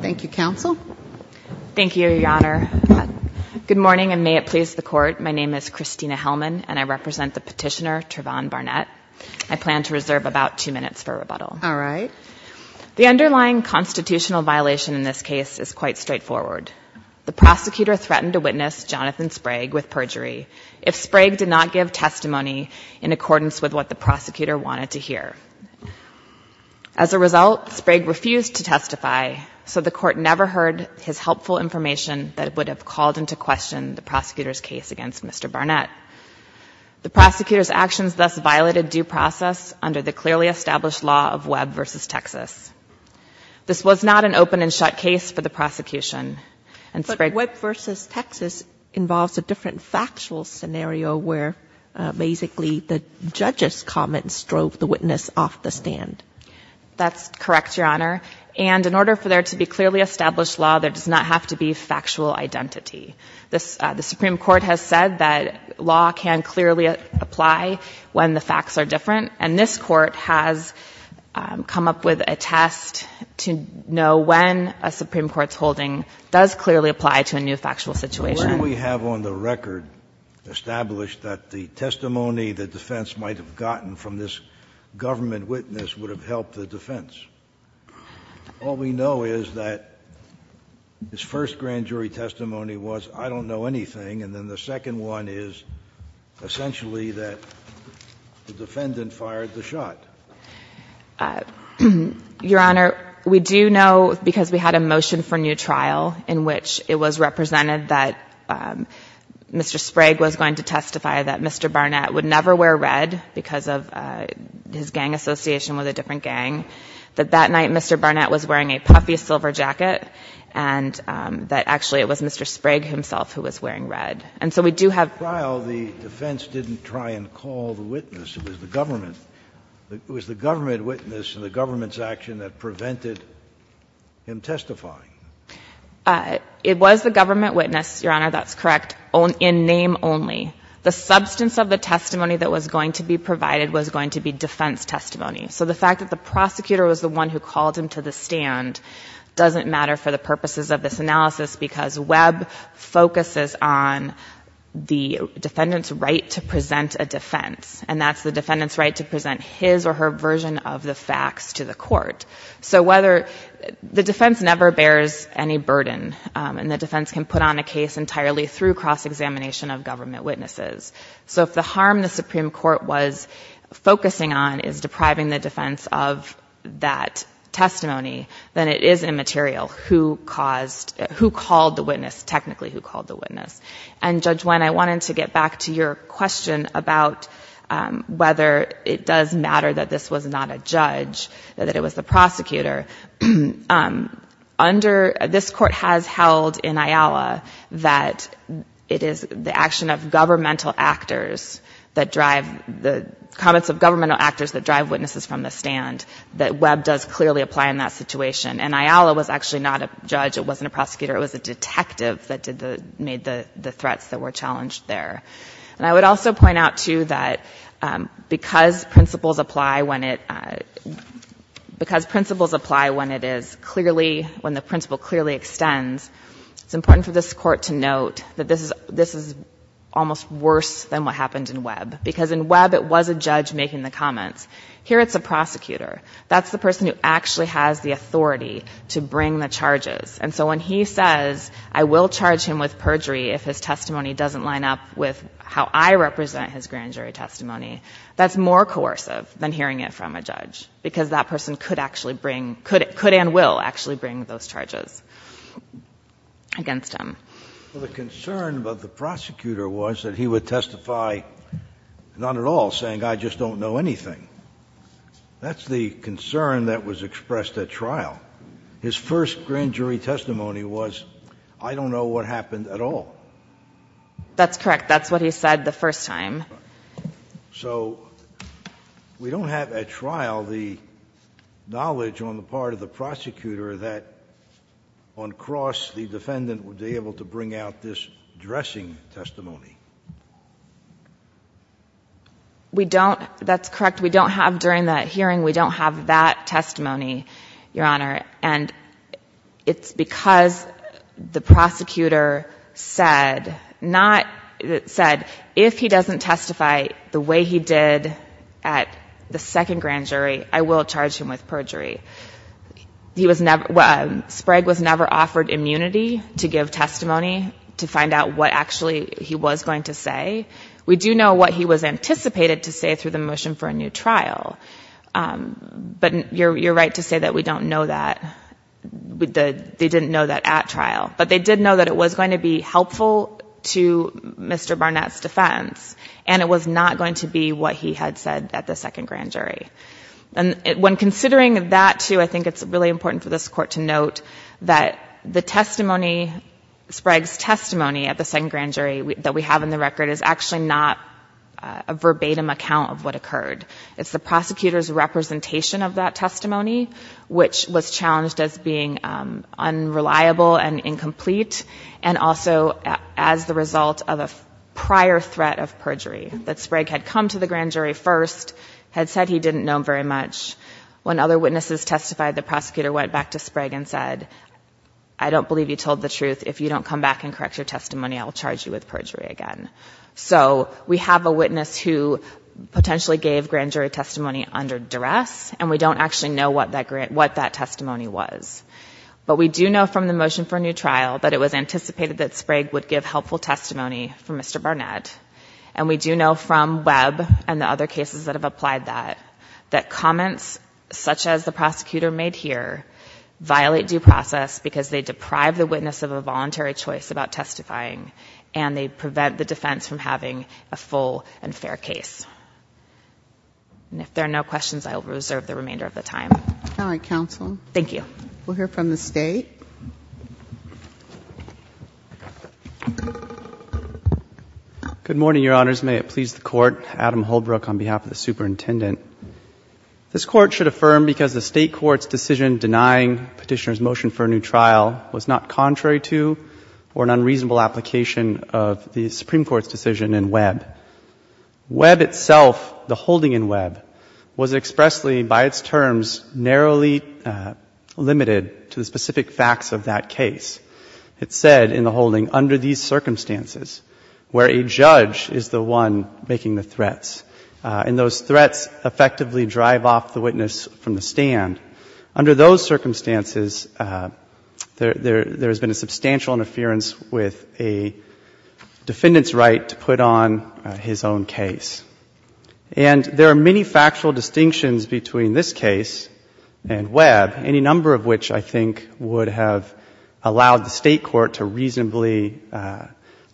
Thank you, Counsel. Thank you, Your Honor. Good morning, and may it please the Court. My name is Christina Hellman, and I represent the petitioner, Travonne Barnett. I plan to reserve about two minutes for rebuttal. All right. The underlying constitutional violation in this case is quite straightforward. The prosecutor threatened to witness Jonathan Sprague with perjury if Sprague did not give testimony in accordance with what the prosecutor wanted to hear. As a result, Sprague refused to testify, so the Court never heard his helpful information that would have called into question the prosecutor's case against Mr. Barnett. The prosecutor's actions thus violated due process under the clearly established law of Webb v. Texas. This was not an open and shut case for the prosecution, and Sprague— But Webb v. Texas involves a different factual scenario where basically the judge's comments drove the witness off the stand. That's correct, Your Honor. And in order for there to be clearly established law, there does not have to be factual identity. The Supreme Court has said that law can clearly apply when the facts are different, and this Court has come up with a test to know when a Supreme Court's holding does clearly apply to a new factual situation. What do we have on the record established that the testimony the defense might have gotten from this government witness would have helped the defense? All we know is that his first grand jury testimony was, I don't know anything, and then the second one is essentially that the defendant fired the shot. Your Honor, we do know, because we had a motion for new trial in which it was represented that Mr. Sprague was going to testify, that Mr. Barnett would never wear red because of his gang association with a different gang, that that night Mr. Barnett was wearing a puffy silver jacket, and that actually it was Mr. Sprague himself who was wearing red. And so we do have— In the trial, the defense didn't try and call the witness. It was the government. It was the government witness and the government's action that prevented him testifying. It was the government witness, Your Honor, that's correct, in name only. The substance of the testimony that was going to be provided was going to be defense testimony. So the fact that the prosecutor was the one who called him to the stand doesn't matter for the purposes of this analysis because Webb focuses on the defendant's right to present a defense, and that's the defendant's right to present his or her version of the facts to the court. So the defense never bears any burden, and the defense can put on a case entirely through cross-examination of government witnesses. So if the harm the Supreme Court was focusing on is depriving the defense of that testimony, then it is immaterial who called the witness, technically who called the witness. And Judge Wen, I wanted to get back to your question about whether it does matter that this was not a judge, that it was the prosecutor. This Court has held in Ayala that it is the action of governmental actors that drive, the comments of governmental actors that drive witnesses from the stand, that Webb does clearly apply in that situation. And Ayala was actually not a judge. It wasn't a prosecutor. It was a detective that made the threats that were challenged there. And I would also point out, too, that because principles apply when it is clearly, when the principle clearly extends, it's important for this Court to note that this is almost worse than what happened in Webb, because in Webb it was a judge making the comments. Here it's a prosecutor. That's the person who actually has the authority to bring the charges. And so when he says I will charge him with perjury if his testimony doesn't line up with how I represent his grand jury testimony, that's more coercive than hearing it from a judge, because that person could actually bring, could and will actually bring those charges against him. The concern of the prosecutor was that he would testify, not at all, saying I just don't know anything. But his first grand jury testimony was I don't know what happened at all. That's correct. That's what he said the first time. So we don't have at trial the knowledge on the part of the prosecutor that, on cross, the defendant would be able to bring out this dressing testimony. We don't. That's correct. We don't have during that hearing, we don't have that testimony, Your Honor. And it's because the prosecutor said not, said if he doesn't testify the way he did at the second grand jury, I will charge him with perjury. He was never, Sprague was never offered immunity to give testimony to find out what actually he was going to say. We do know what he was anticipated to say through the motion for a new trial. But you're right to say that we don't know that. They didn't know that at trial. But they did know that it was going to be helpful to Mr. Barnett's defense, and it was not going to be what he had said at the second grand jury. And when considering that, too, I think it's really important for this Court to note that the testimony, Sprague's testimony at the second grand jury that we have in the record is actually not a verbatim account of what occurred. It's the prosecutor's representation of that testimony, which was challenged as being unreliable and incomplete, and also as the result of a prior threat of perjury, that Sprague had come to the grand jury first, had said he didn't know very much. When other witnesses testified, the prosecutor went back to Sprague and said, I don't believe you told the truth. If you don't come back and correct your testimony, I will charge you with perjury again. So we have a witness who potentially gave grand jury testimony under duress, and we don't actually know what that testimony was. But we do know from the motion for a new trial that it was anticipated that Sprague would give helpful testimony for Mr. Barnett. And we do know from Webb and the other cases that have applied that, that comments such as the prosecutor made here violate due process because they deprive the witness of a voluntary choice about testifying, and they prevent the defense from having a full and fair case. And if there are no questions, I will reserve the remainder of the time. All right, counsel. Thank you. We'll hear from the State. Good morning, Your Honors. May it please the Court. Adam Holbrook on behalf of the Superintendent. This Court should affirm because the State Court's decision denying Petitioner's motion for a new trial was not contrary to or an unreasonable application of the Supreme Court's decision in Webb. Webb itself, the holding in Webb, was expressly, by its terms, narrowly limited to the specific facts of that case. It said in the holding, under these circumstances, where a judge is the one making the threats, and those threats effectively drive off the witness from the stand, under those circumstances, there has been a substantial interference with a defendant's right to put on his own case. And there are many factual distinctions between this case and Webb, any number of which I think would have allowed the State Court to reasonably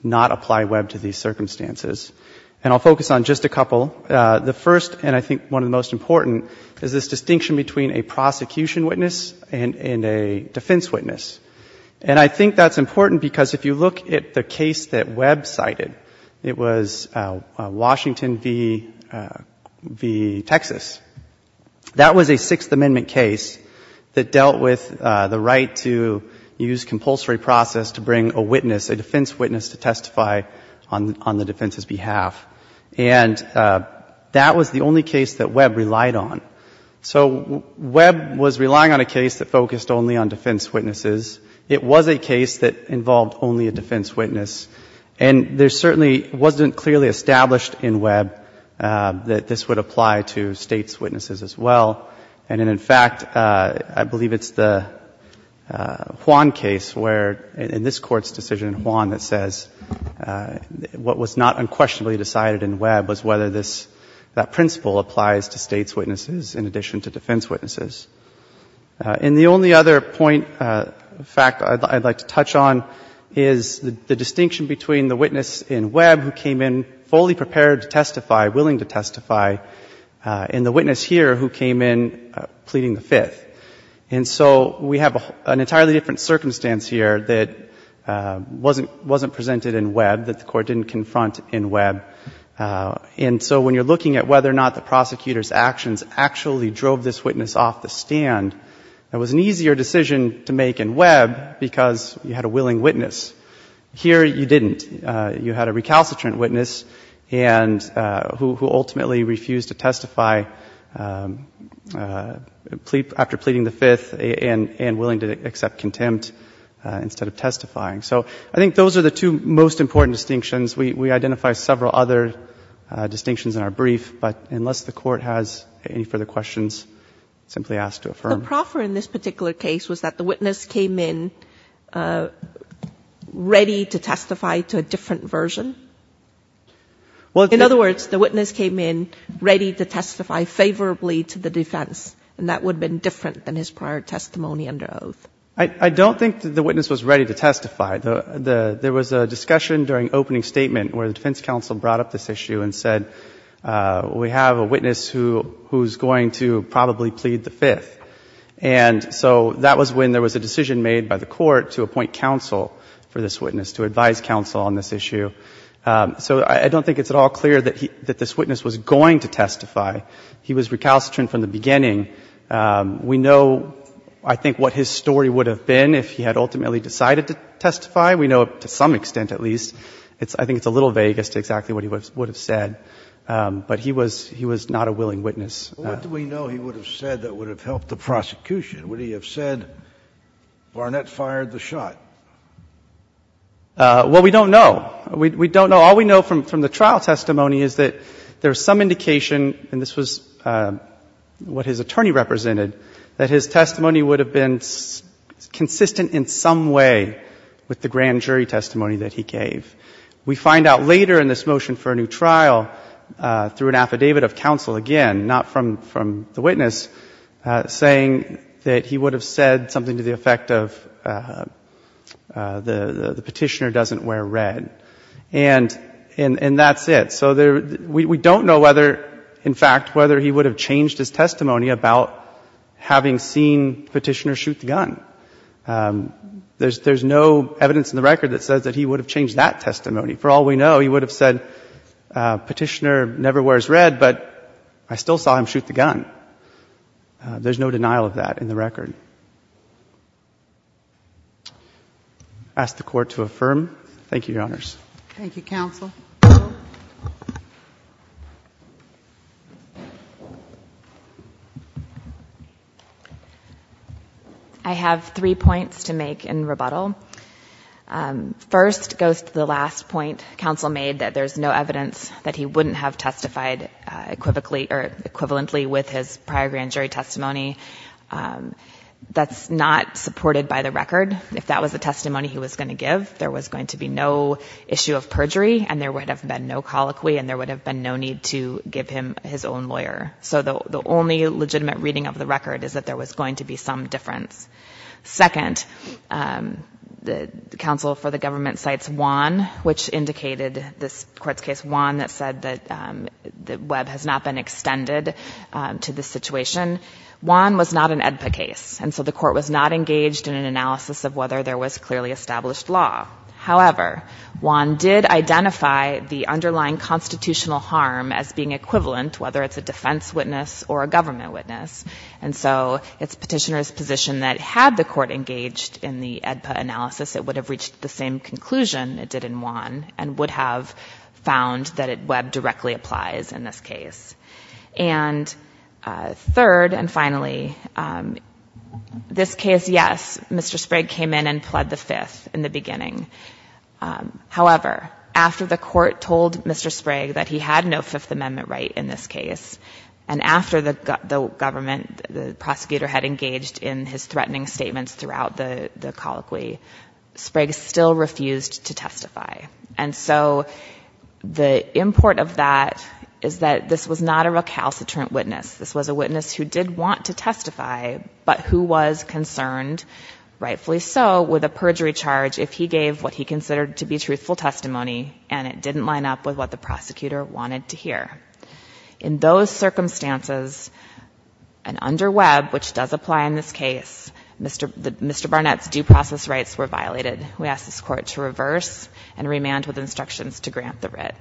not apply Webb to these circumstances. And I'll focus on just a couple. The first, and I think one of the most important, is this distinction between a prosecution witness and a defense witness. And I think that's important because if you look at the case that Webb cited, it was Washington v. Texas. That was a Sixth Amendment case that dealt with the right to use compulsory process to bring a witness, a defense witness, to testify on the defense's behalf. And that was the only case that Webb relied on. So Webb was relying on a case that focused only on defense witnesses. It was a case that involved only a defense witness. And there certainly wasn't clearly established in Webb that this would apply to States' witnesses as well. And in fact, I believe it's the Juan case where, in this Court's decision in Juan, that says what was not unquestionably decided in Webb was whether this, that principle applies to States' witnesses in addition to defense witnesses. And the only other point, fact I'd like to touch on, is the distinction between the witness in Webb who came in fully prepared to testify, willing to testify, and the witness here who came in pleading the Fifth. And so we have an entirely different circumstance here that wasn't presented in Webb, that the Court didn't confront in Webb. And so when you're looking at whether or not the prosecutor's actions actually drove this witness off the stand, it was an easier decision to make in Webb because you had a willing witness. Here you didn't. You had a recalcitrant witness who ultimately refused to testify after pleading the Fifth and willing to accept contempt instead of testifying. So I think those are the two most important distinctions. We identify several other distinctions in our brief, but unless the Court has any further questions, simply ask to affirm. The proffer in this particular case was that the witness came in ready to testify to a different version? In other words, the witness came in ready to testify favorably to the defense, and that would have been different than his prior testimony under oath. I don't think the witness was ready to testify. There was a discussion during opening statement where the defense counsel brought up this issue and said, we have a witness who's going to probably plead the Fifth. And so that was when there was a decision made by the Court to appoint counsel for this witness, to advise counsel on this issue. So I don't think it's at all clear that this witness was going to testify. He was recalcitrant from the beginning. We know, I think, what his story would have been if he had ultimately decided to testify. We know to some extent, at least. I think it's a little vague as to exactly what he would have said. But he was not a willing witness. What do we know he would have said that would have helped the prosecution? Would he have said, Barnett fired the shot? Well, we don't know. We don't know. All we know from the trial testimony is that there's some indication, and this was what his attorney represented, that his testimony would have been consistent in some way with the grand jury testimony that he gave. We find out later in this motion for a new trial through an affidavit of counsel, again, not from the witness, saying that he would have said something to the effect of the petitioner doesn't wear red. And that's it. So we don't know whether, in fact, whether he would have changed his testimony about having seen Petitioner shoot the gun. There's no evidence in the record that says that he would have changed that testimony. For all we know, he would have said, Petitioner never wears red, but I still saw him shoot the gun. There's no denial of that in the record. I ask the Court to affirm. Thank you, Your Honors. Thank you, Counsel. I have three points to make in rebuttal. First goes to the last point Counsel made, that there's no evidence that he wouldn't have testified equivalently with his prior grand jury testimony. That's not supported by the record. If that was the testimony he was going to give, there was going to be no issue of perjury and there would have been no colloquy and there would have been no need to give him his own lawyer. So the only legitimate reading of the record is that there was going to be some difference. Second, the counsel for the government cites Wan, which indicated this Court's case, Wan that said that Webb has not been extended to this situation. Wan was not an AEDPA case. And so the Court was not engaged in an analysis of whether there was clearly established law. However, Wan did identify the underlying constitutional harm as being equivalent, whether it's a defense witness or a government witness. And so it's Petitioner's position that had the Court engaged in the AEDPA analysis, it would have reached the same conclusion it did in Wan and would have found that Webb directly applies in this case. And third and finally, this case, yes, Mr. Sprague came in and pled the Fifth in the beginning. However, after the Court told Mr. Sprague that he had no Fifth Amendment right in this case and after the government, the prosecutor, had engaged in his threatening statements throughout the colloquy, Sprague still refused to testify. And so the import of that is that this was not a recalcitrant witness. This was a witness who did want to testify, but who was concerned, rightfully so, with a perjury charge if he gave what he considered to be truthful testimony and it didn't line up with what the prosecutor wanted to hear. In those circumstances, and under Webb, which does apply in this case, Mr. Barnett's due process rights were violated. We ask this Court to reverse and remand with instructions to grant the writ.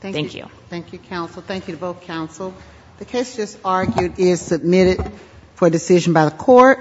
Thank you. Thank you, counsel. Thank you to both counsel. The case just argued is submitted for decision by the Court.